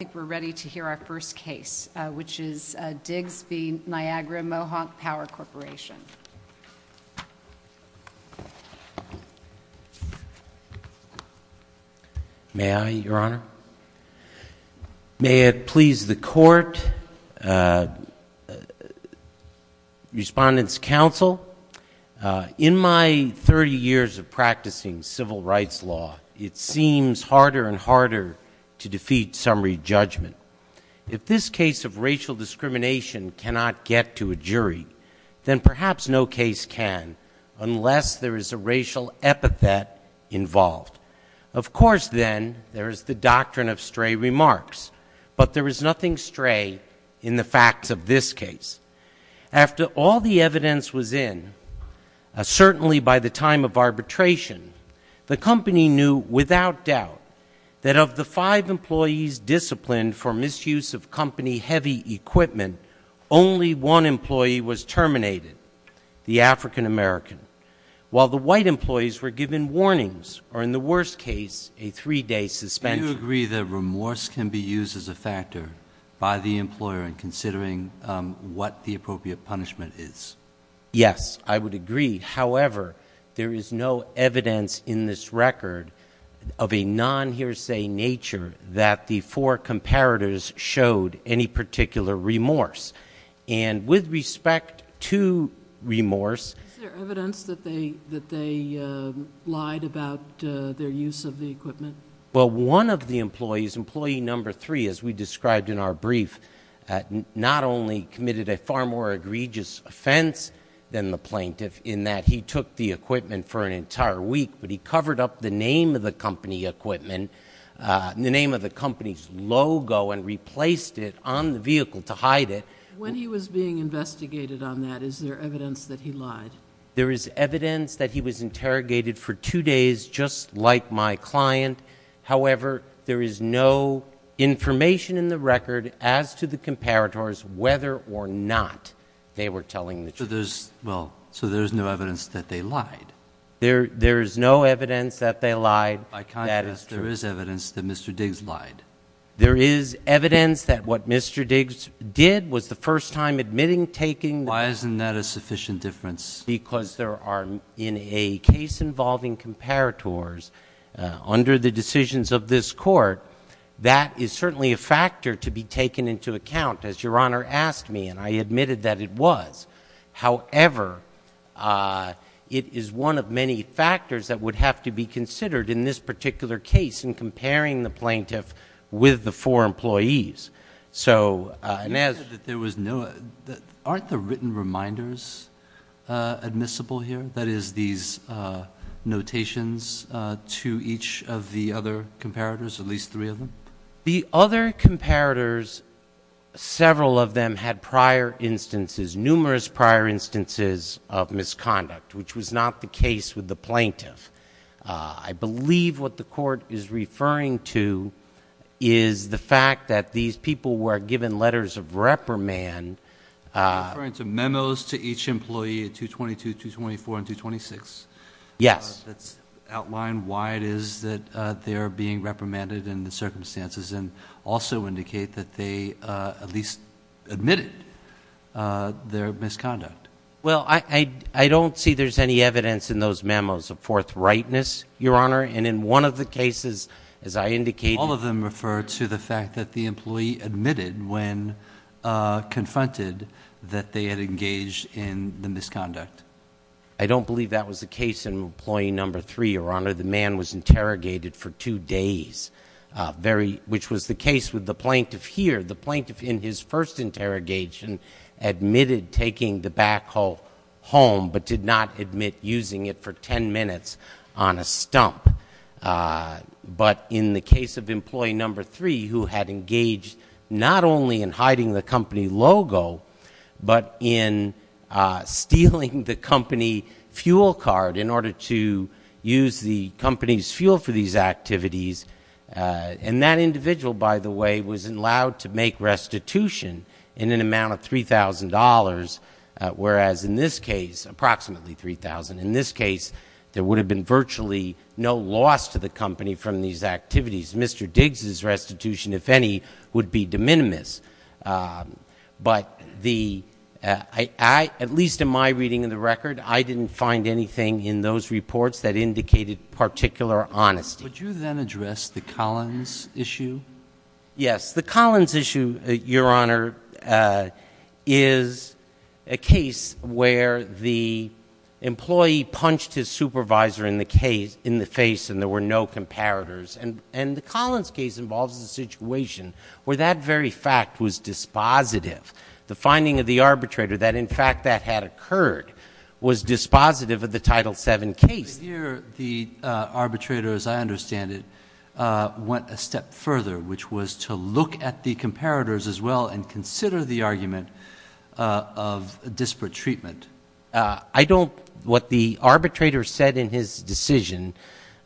I think we're ready to hear our first case, which is Diggs v. Niagara Mohawk Power Corporation. May I, Your Honor? May it please the Court, Respondents' Counsel, in my 30 years of practicing civil rights law, it seems harder and harder to defeat summary judgment. If this case of racial discrimination cannot get to a jury, then perhaps no case can unless there is a racial epithet involved. Of course, then, there is the doctrine of stray remarks. But there is nothing stray in the facts of this case. After all the evidence was in, certainly by the time of arbitration, the company knew without doubt that of the five employees disciplined for misuse of company-heavy equipment, only one employee was terminated, the African-American, while the white employees were given warnings or, in the worst case, a three-day suspension. Do you agree that remorse can be used as a factor by the employer in considering what the appropriate punishment is? Yes, I would agree. However, there is no evidence in this record of a non-hearsay nature that the four comparators showed any particular remorse. And with respect to remorse — Is there evidence that they lied about their use of the equipment? Well, one of the employees, employee number three, as we described in our brief, not only committed a far more egregious offense than the plaintiff in that he took the equipment for an entire week, but he covered up the name of the company equipment, the name of the company's logo, and replaced it on the vehicle to hide it. When he was being investigated on that, is there evidence that he lied? There is evidence that he was interrogated for two days, just like my client. However, there is no information in the record as to the comparators whether or not they were telling the truth. So there's — well, so there's no evidence that they lied? There's no evidence that they lied. By contrast, there is evidence that Mr. Diggs lied. There is evidence that what Mr. Diggs did was the first time admitting taking — Why isn't that a sufficient difference? Because there are, in a case involving comparators, under the decisions of this Court, that is certainly a factor to be taken into account, as Your Honor asked me, and I admitted that it was. However, it is one of many factors that would have to be considered in this particular case in comparing the plaintiff with the four employees. So — You said that there was no — aren't the written reminders admissible here? That is, these notations to each of the other comparators, at least three of them? The other comparators, several of them had prior instances, numerous prior instances of misconduct, which was not the case with the plaintiff. I believe what the Court is referring to is the fact that these people were given letters of reprimand. Are you referring to memos to each employee at 222, 224, and 226? Yes. That outline why it is that they are being reprimanded in the circumstances and also indicate that they at least admitted their misconduct? Well, I don't see there's any evidence in those memos of forthrightness, Your Honor, and in one of the cases, as I indicated — confronted that they had engaged in the misconduct. I don't believe that was the case in employee number three, Your Honor. The man was interrogated for two days, which was the case with the plaintiff here. The plaintiff in his first interrogation admitted taking the backhoe home but did not admit using it for 10 minutes on a stump. But in the case of employee number three, who had engaged not only in hiding the company logo but in stealing the company fuel card in order to use the company's fuel for these activities — and that individual, by the way, was allowed to make restitution in an amount of $3,000, whereas in this case, approximately $3,000. In this case, there would have been virtually no loss to the company from these activities. Mr. Diggs' restitution, if any, would be de minimis. But the — at least in my reading of the record, I didn't find anything in those reports that indicated particular honesty. Would you then address the Collins issue? Yes. The Collins issue, Your Honor, is a case where the employee punched his supervisor in the case — in the face and there were no comparators. And the Collins case involves a situation where that very fact was dispositive. The finding of the arbitrator that, in fact, that had occurred was dispositive of the Title VII case. But this year, the arbitrator, as I understand it, went a step further, which was to look at the comparators as well and consider the argument of disparate treatment. I don't — what the arbitrator said in his decision,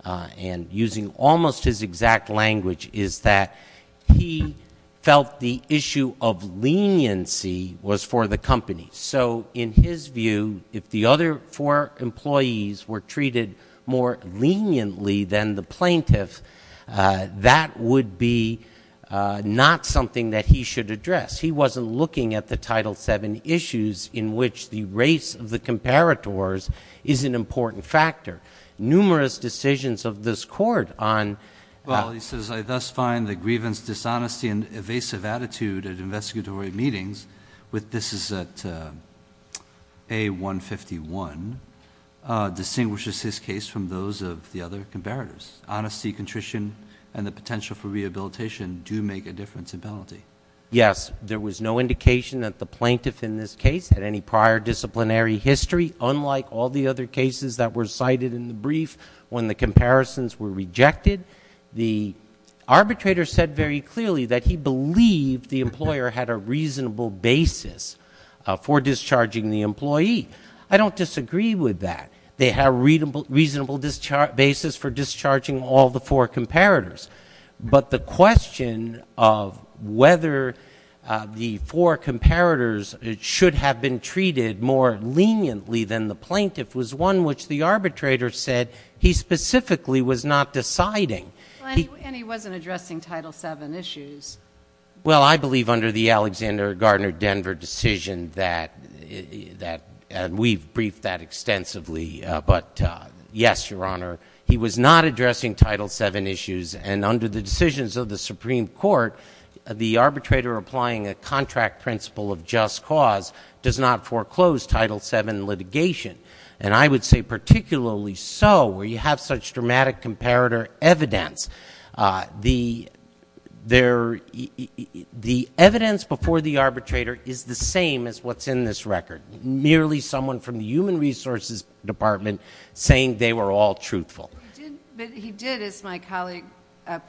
and using almost his exact language, is that he felt the issue of leniency was for the company. So in his view, if the other four employees were treated more leniently than the plaintiff, that would be not something that he should address. He wasn't looking at the Title VII issues in which the race of the comparators is an important factor. Numerous decisions of this Court on — Well, he says, I thus find the grievance, dishonesty, and evasive attitude at investigatory meetings with — this is at A-151 — distinguishes his case from those of the other comparators. Honesty, contrition, and the potential for rehabilitation do make a difference in penalty. Yes. There was no indication that the plaintiff in this case had any prior disciplinary history, unlike all the other cases that were cited in the brief when the comparisons were rejected. The arbitrator said very clearly that he believed the employer had a reasonable basis for discharging the employee. I don't disagree with that. They have a reasonable basis for discharging all the four comparators. But the question of whether the four comparators should have been treated more leniently than the plaintiff was one which the arbitrator said he specifically was not deciding. And he wasn't addressing Title VII issues. Well, I believe under the Alexander Gardner Denver decision that — and we've briefed that extensively. But yes, Your Honor, he was not addressing Title VII issues. And under the decisions of the Supreme Court, the arbitrator applying a contract principle of just cause does not foreclose Title VII litigation. And I would say particularly so where you have such dramatic comparator evidence. The evidence before the arbitrator is the same as what's in this record, merely someone from the Human Resources Department saying they were all truthful. But he did, as my colleague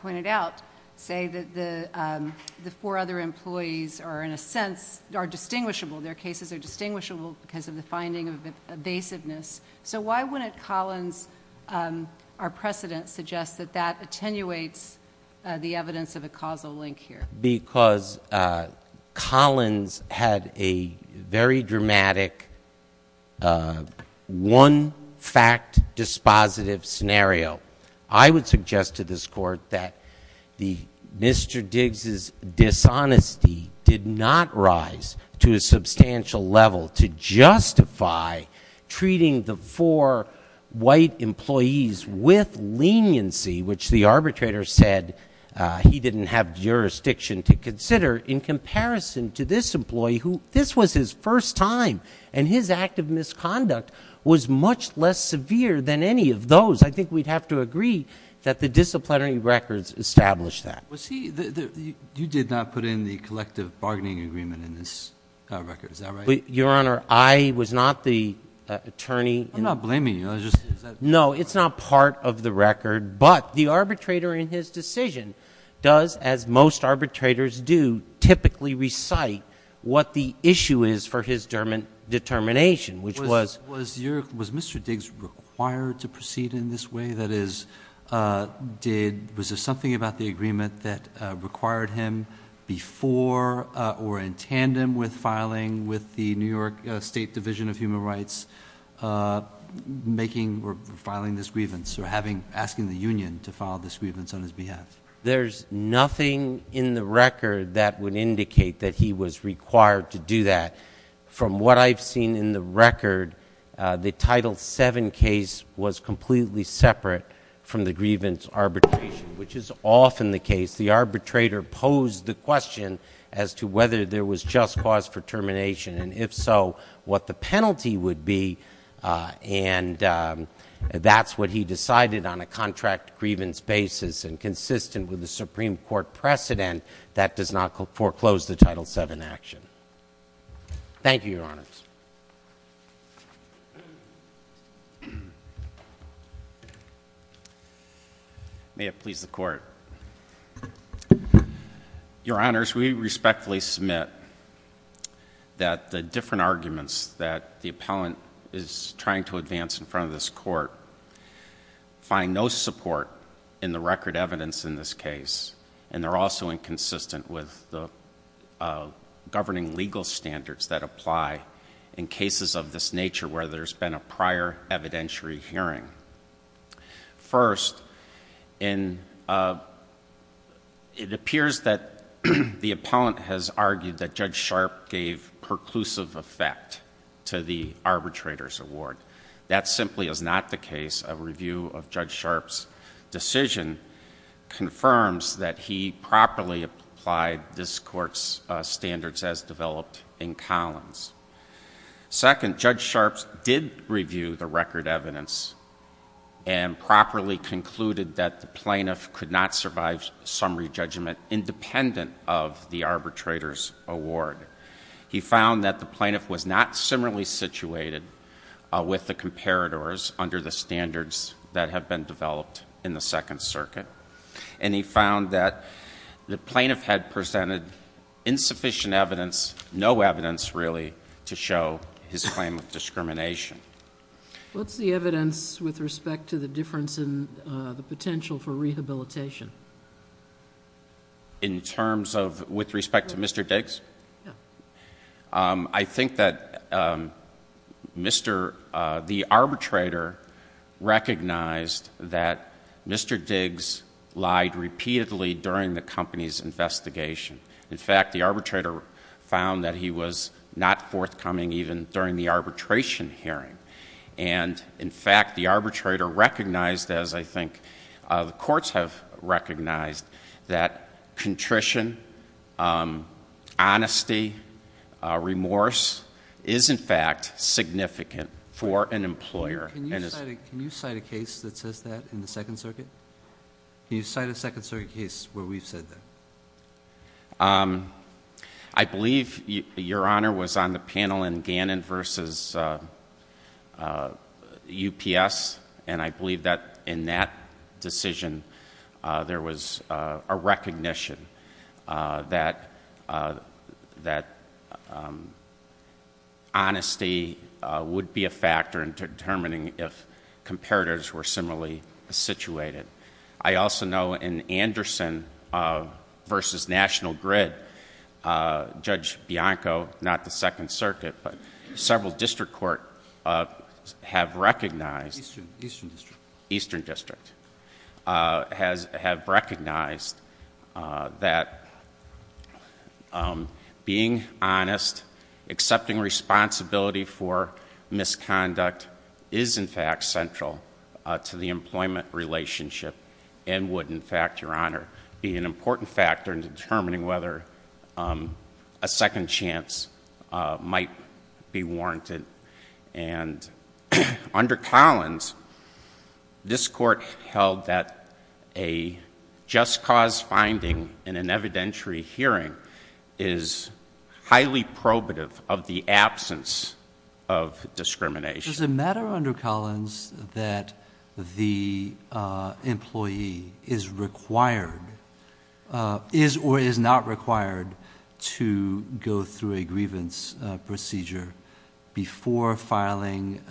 pointed out, say that the four other employees are in a sense are distinguishable. Their cases are distinguishable because of the finding of evasiveness. So why wouldn't Collins, our precedent suggests that that attenuates the evidence of a causal link here? Because Collins had a very dramatic one-fact-dispositive scenario. I would suggest to this Court that Mr. Diggs' dishonesty did not rise to a substantial level to justify treating the four white employees with leniency, which the arbitrator said he didn't have jurisdiction to consider, in comparison to this employee, who this was his first time and his act of misconduct was much less severe than any of those. I think we'd have to agree that the disciplinary records establish that. Was he, you did not put in the collective bargaining agreement in this record, is that right? Your Honor, I was not the attorney. I'm not blaming you, I was just. No, it's not part of the record, but the arbitrator in his decision does, as most arbitrators do, typically recite what the issue is for his determination, which was. Was Mr. Diggs required to proceed in this way? That is, did, was there something about the agreement that required him before or in tandem with filing with the New York State Division of Human Rights making or filing this grievance or having, asking the union to file this grievance on his behalf? There's nothing in the record that would indicate that he was required to do that. From what I've seen in the record, the Title VII case was completely separate from the grievance arbitration, which is often the case. The arbitrator posed the question as to whether there was just cause for termination, and if so, what the penalty would be, and that's what he decided on a contract grievance basis and consistent with the Supreme Court precedent that does not foreclose the Title VII action. Thank you, Your Honors. May it please the Court. Your Honors, we respectfully submit that the different arguments that the appellant is trying to advance in front of this Court find no support in the record evidence in this in cases of this nature where there's been a prior evidentiary hearing. First, it appears that the appellant has argued that Judge Sharpe gave perclusive effect to the arbitrator's award. That simply is not the case. A review of Judge Sharpe's decision confirms that he properly applied this Court's standards as developed in Collins. Second, Judge Sharpe did review the record evidence and properly concluded that the plaintiff could not survive summary judgment independent of the arbitrator's award. He found that the plaintiff was not similarly situated with the comparators under the standards that have been developed in the Second Circuit, and he found that the plaintiff had presented insufficient evidence, no evidence really, to show his claim of discrimination. What's the evidence with respect to the difference in the potential for rehabilitation? In terms of, with respect to Mr. Diggs? Yeah. I think that Mr., the arbitrator recognized that Mr. Diggs lied repeatedly during the hearing. In fact, the arbitrator found that he was not forthcoming even during the arbitration hearing. And, in fact, the arbitrator recognized, as I think the courts have recognized, that contrition, honesty, remorse is, in fact, significant for an employer. Can you cite a case that says that in the Second Circuit? Can you cite a Second Circuit case where we've said that? I believe, Your Honor, was on the panel in Gannon v. UPS, and I believe that in that decision, there was a recognition that honesty would be a factor in determining if comparators were similarly situated. I also know in Anderson v. National Grid, Judge Bianco, not the Second Circuit, but several district courts have recognized... Eastern. Eastern District. Eastern District, have recognized that being honest, accepting responsibility for misconduct is, in fact, central to the employment relationship and would, in fact, Your Honor, be an important factor in determining whether a second chance might be warranted. And under Collins, this Court held that a just cause finding in an evidentiary hearing is highly probative of the absence of discrimination. Does it matter under Collins that the employee is required, is or is not required to go through a grievance procedure before filing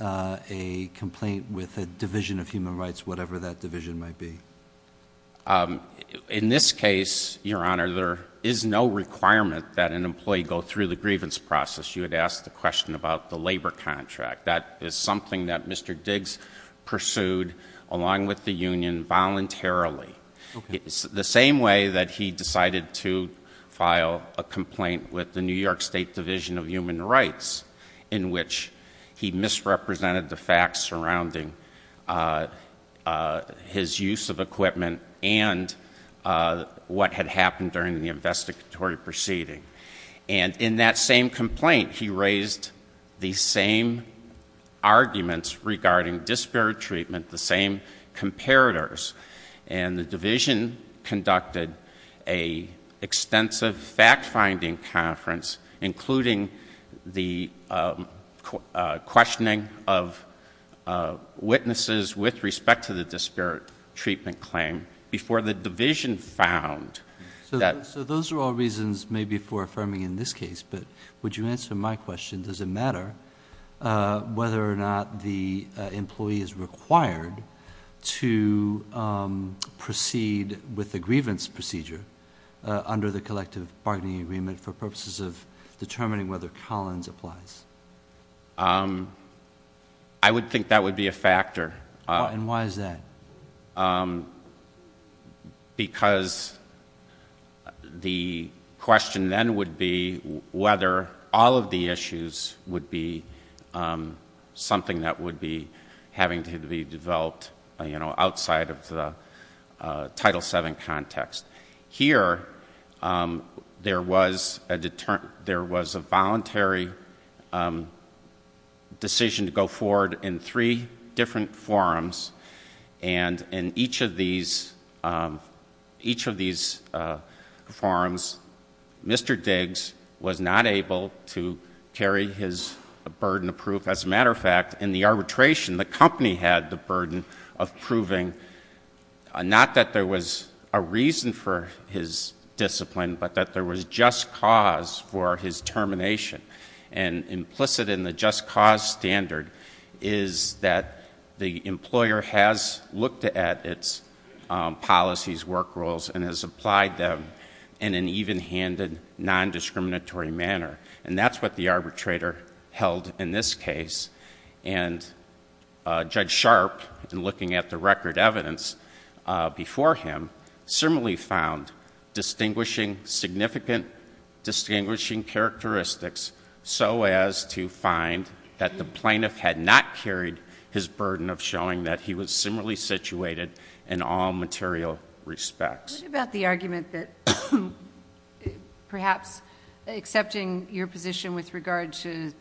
a complaint with a Division of Human Rights, whatever that division might be? In this case, Your Honor, there is no requirement that an employee go through the grievance process. You had asked the question about the labor contract. That is something that Mr. Diggs pursued, along with the union, voluntarily, the same way that he decided to file a complaint with the New York State Division of Human Rights, in which he misrepresented the facts surrounding his use of equipment and what had happened during the investigatory proceeding. And in that same complaint, he raised the same arguments regarding disparate treatment, the same comparators. And the division conducted an extensive fact-finding conference, including the questioning of witnesses with respect to the disparate treatment claim, before the division found that— Those are all reasons maybe for affirming in this case, but would you answer my question, does it matter whether or not the employee is required to proceed with the grievance procedure under the collective bargaining agreement for purposes of determining whether Collins applies? I would think that would be a factor. And why is that? Because the question then would be whether all of the issues would be something that would be having to be developed outside of the Title VII context. Here, there was a voluntary decision to go forward in three different forums. And in each of these forums, Mr. Diggs was not able to carry his burden of proof. As a matter of fact, in the arbitration, the company had the burden of proving not that there was a reason for his discipline, but that there was just cause for his termination. And implicit in the just cause standard is that the employer has looked at its policies, work rules, and has applied them in an even-handed, non-discriminatory manner. And that's what the arbitrator held in this case. And Judge Sharp, in looking at the record evidence before him, similarly found distinguishing significant distinguishing characteristics so as to find that the plaintiff had not carried his burden of showing that he was similarly situated in all material respects. What about the argument that perhaps accepting your position with regard to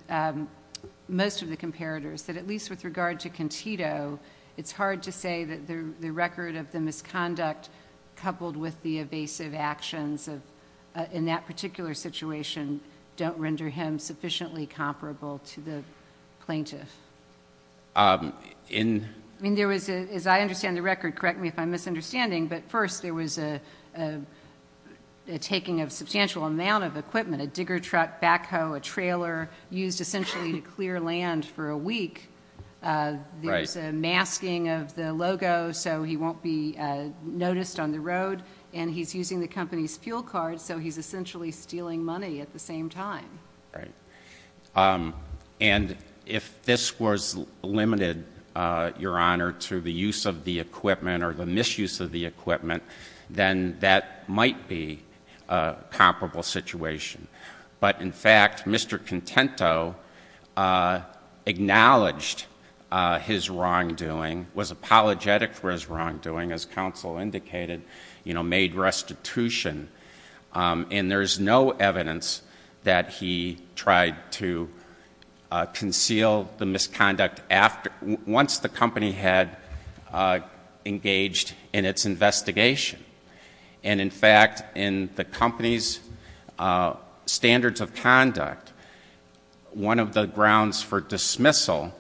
most of the comparators, that at least with regard to Contito, it's hard to say that the record of the misconduct coupled with the evasive actions in that particular situation don't render him sufficiently comparable to the plaintiff? I mean, there was, as I understand the record, correct me if I'm misunderstanding, but first there was a taking of substantial amount of equipment, a digger truck, backhoe, a trailer used essentially to clear land for a week, there's a masking of the logo so he won't be noticed on the road, and he's using the company's fuel card so he's essentially stealing money at the same time. And if this was limited, Your Honor, to the use of the equipment or the misuse of the equipment, then that might be a comparable situation. But in fact, Mr. Contento acknowledged his wrongdoing, was apologetic for his wrongdoing, as counsel indicated, you know, made restitution, and there's no evidence that he tried to conceal the misconduct after, once the company had engaged in its investigation. And in fact, in the company's standards of conduct, one of the grounds for dismissal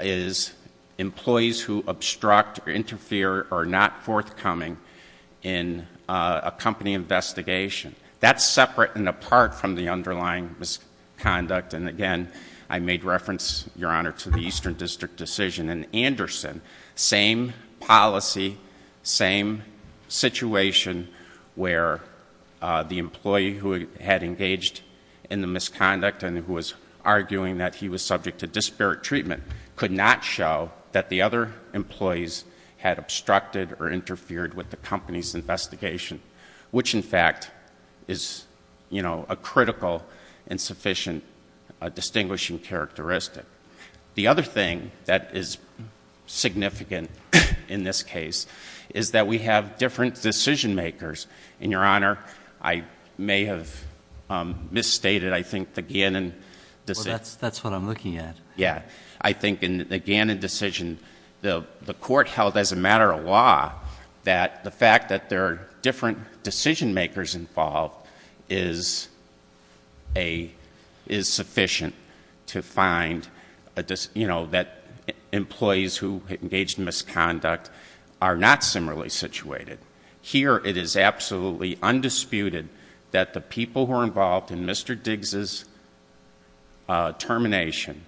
is employees who obstruct or interfere are not forthcoming in a company investigation. That's separate and apart from the underlying misconduct, and again, I made reference, Your Honor, to the Eastern District decision, and Anderson, same policy, same situation where the employee who had engaged in the misconduct and who was arguing that he was subject to disparate treatment could not show that the other employees had obstructed or interfered is, you know, a critical and sufficient distinguishing characteristic. The other thing that is significant in this case is that we have different decision-makers, and Your Honor, I may have misstated, I think, the Gannon decision. Well, that's what I'm looking at. Yeah. I think in the Gannon decision, the court held as a matter of law that the fact that there are different decision-makers involved is sufficient to find, you know, that employees who engaged in misconduct are not similarly situated. Here it is absolutely undisputed that the people who are involved in Mr. Diggs' termination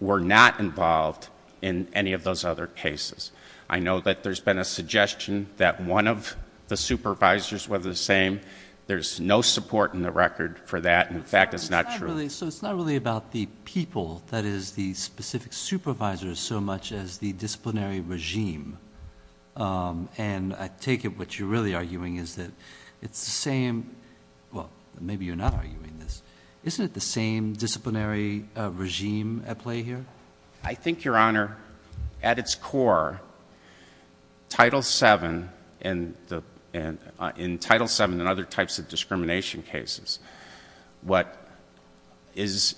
were not involved in any of those other cases. I know that there's been a suggestion that one of the supervisors was the same. There's no support in the record for that, and in fact, it's not true. So it's not really about the people that is the specific supervisors so much as the disciplinary regime, and I take it what you're really arguing is that it's the same, well, maybe you're not arguing this, isn't it the same disciplinary regime at play here? I think, Your Honor, at its core, Title VII and other types of discrimination cases, what is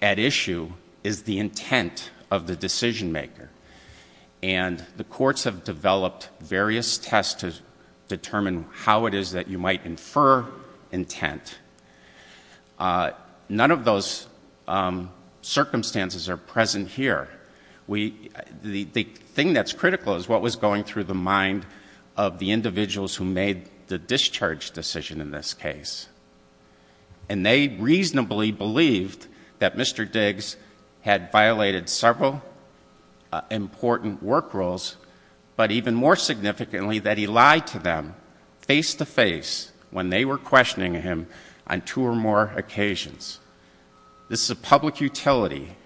at issue is the intent of the decision-maker, and the courts have developed various tests to determine how it is that you might infer intent. None of those circumstances are present here. The thing that's critical is what was going through the mind of the individuals who made the discharge decision in this case, and they reasonably believed that Mr. Diggs had violated several important work rules, but even more significantly, that he lied to them face-to-face when they were questioning him on two or more occasions. This is a public utility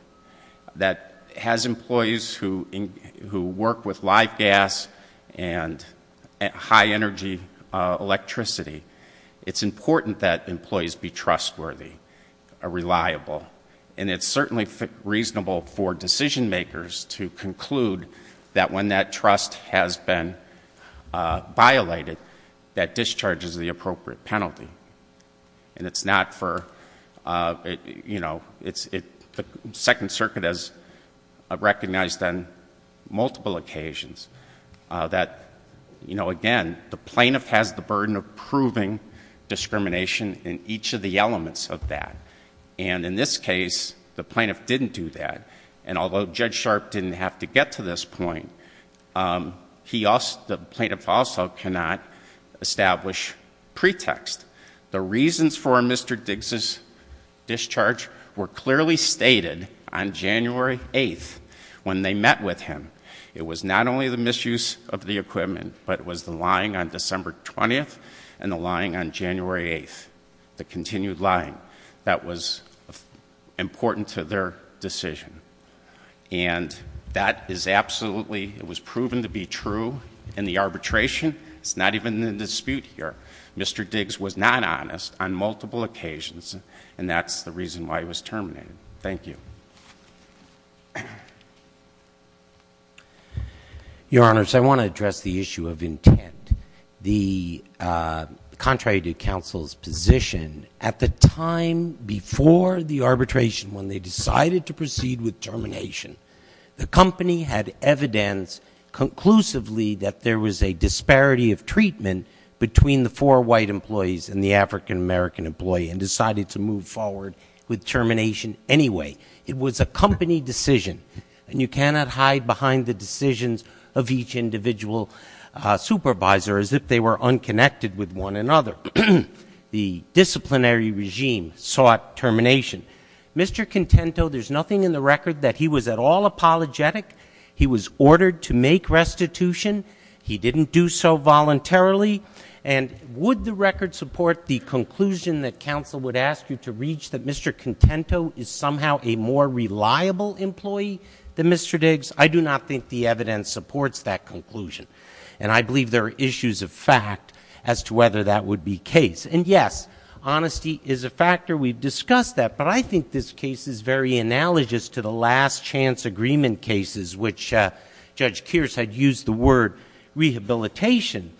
that has employees who work with live gas and high-energy electricity. It's important that employees be trustworthy, reliable, and it's certainly reasonable for an appropriate penalty, and it's not for, you know, the Second Circuit has recognized on multiple occasions that, you know, again, the plaintiff has the burden of proving discrimination in each of the elements of that, and in this case, the plaintiff didn't do that, and although Judge Sharp didn't have to get to this point, the plaintiff also cannot establish pretext. The reasons for Mr. Diggs' discharge were clearly stated on January 8th when they met with him. It was not only the misuse of the equipment, but it was the lying on December 20th and the lying on January 8th, the continued lying that was important to their decision. And that is absolutely, it was proven to be true in the arbitration. It's not even in the dispute here. Mr. Diggs was not honest on multiple occasions, and that's the reason why he was terminated. Thank you. Your Honors, I want to address the issue of intent. The contrary to counsel's position, at the time before the arbitration when they decided to proceed with termination, the company had evidence conclusively that there was a disparity of treatment between the four white employees and the African-American employee and decided to move forward with termination anyway. It was a company decision, and you cannot hide behind the decisions of each individual supervisor as if they were unconnected with one another. The disciplinary regime sought termination. Mr. Contento, there's nothing in the record that he was at all apologetic. He was ordered to make restitution. He didn't do so voluntarily. And would the record support the conclusion that counsel would ask you to reach that Mr. Contento is somehow a more reliable employee than Mr. Diggs? I do not think the evidence supports that conclusion, and I believe there are issues of fact as to whether that would be case. And yes, honesty is a factor. We've discussed that, but I think this case is very analogous to the last chance agreement cases, which Judge Kearse had used the word rehabilitation.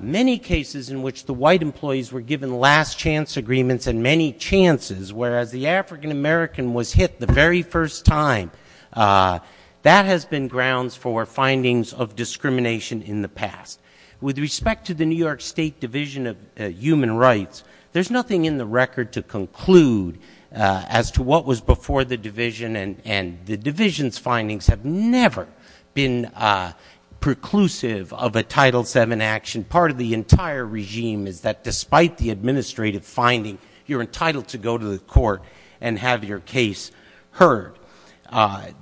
Many cases in which the white employees were given last chance agreements and many chances, whereas the African-American was hit the very first time, that has been grounds for findings of discrimination in the past. With respect to the New York State Division of Human Rights, there's nothing in the record to conclude as to what was before the division. And the division's findings have never been preclusive of a Title VII action. Part of the entire regime is that despite the administrative finding, you're entitled to go to the court and have your case heard.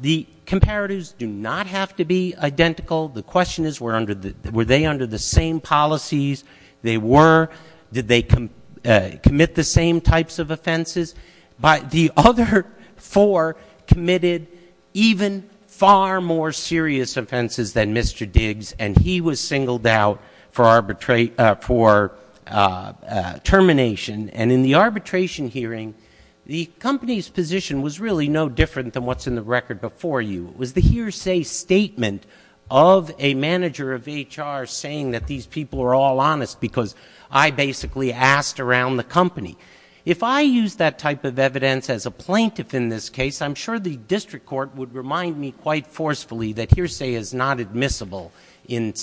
The comparatives do not have to be identical. The question is, were they under the same policies they were? Did they commit the same types of offenses? The other four committed even far more serious offenses than Mr. Diggs, and he was singled out for termination. And in the arbitration hearing, the company's position was really no different than what's in the record before you. It was the hearsay statement of a manager of HR saying that these people are all honest because I basically asked around the company. If I use that type of evidence as a plaintiff in this case, I'm sure the district court would remind me quite forcefully that hearsay is not admissible and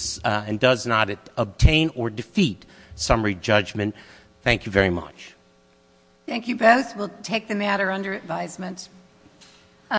does not obtain or defeat summary judgment. Thank you very much. Thank you both. We'll take the matter under advisement.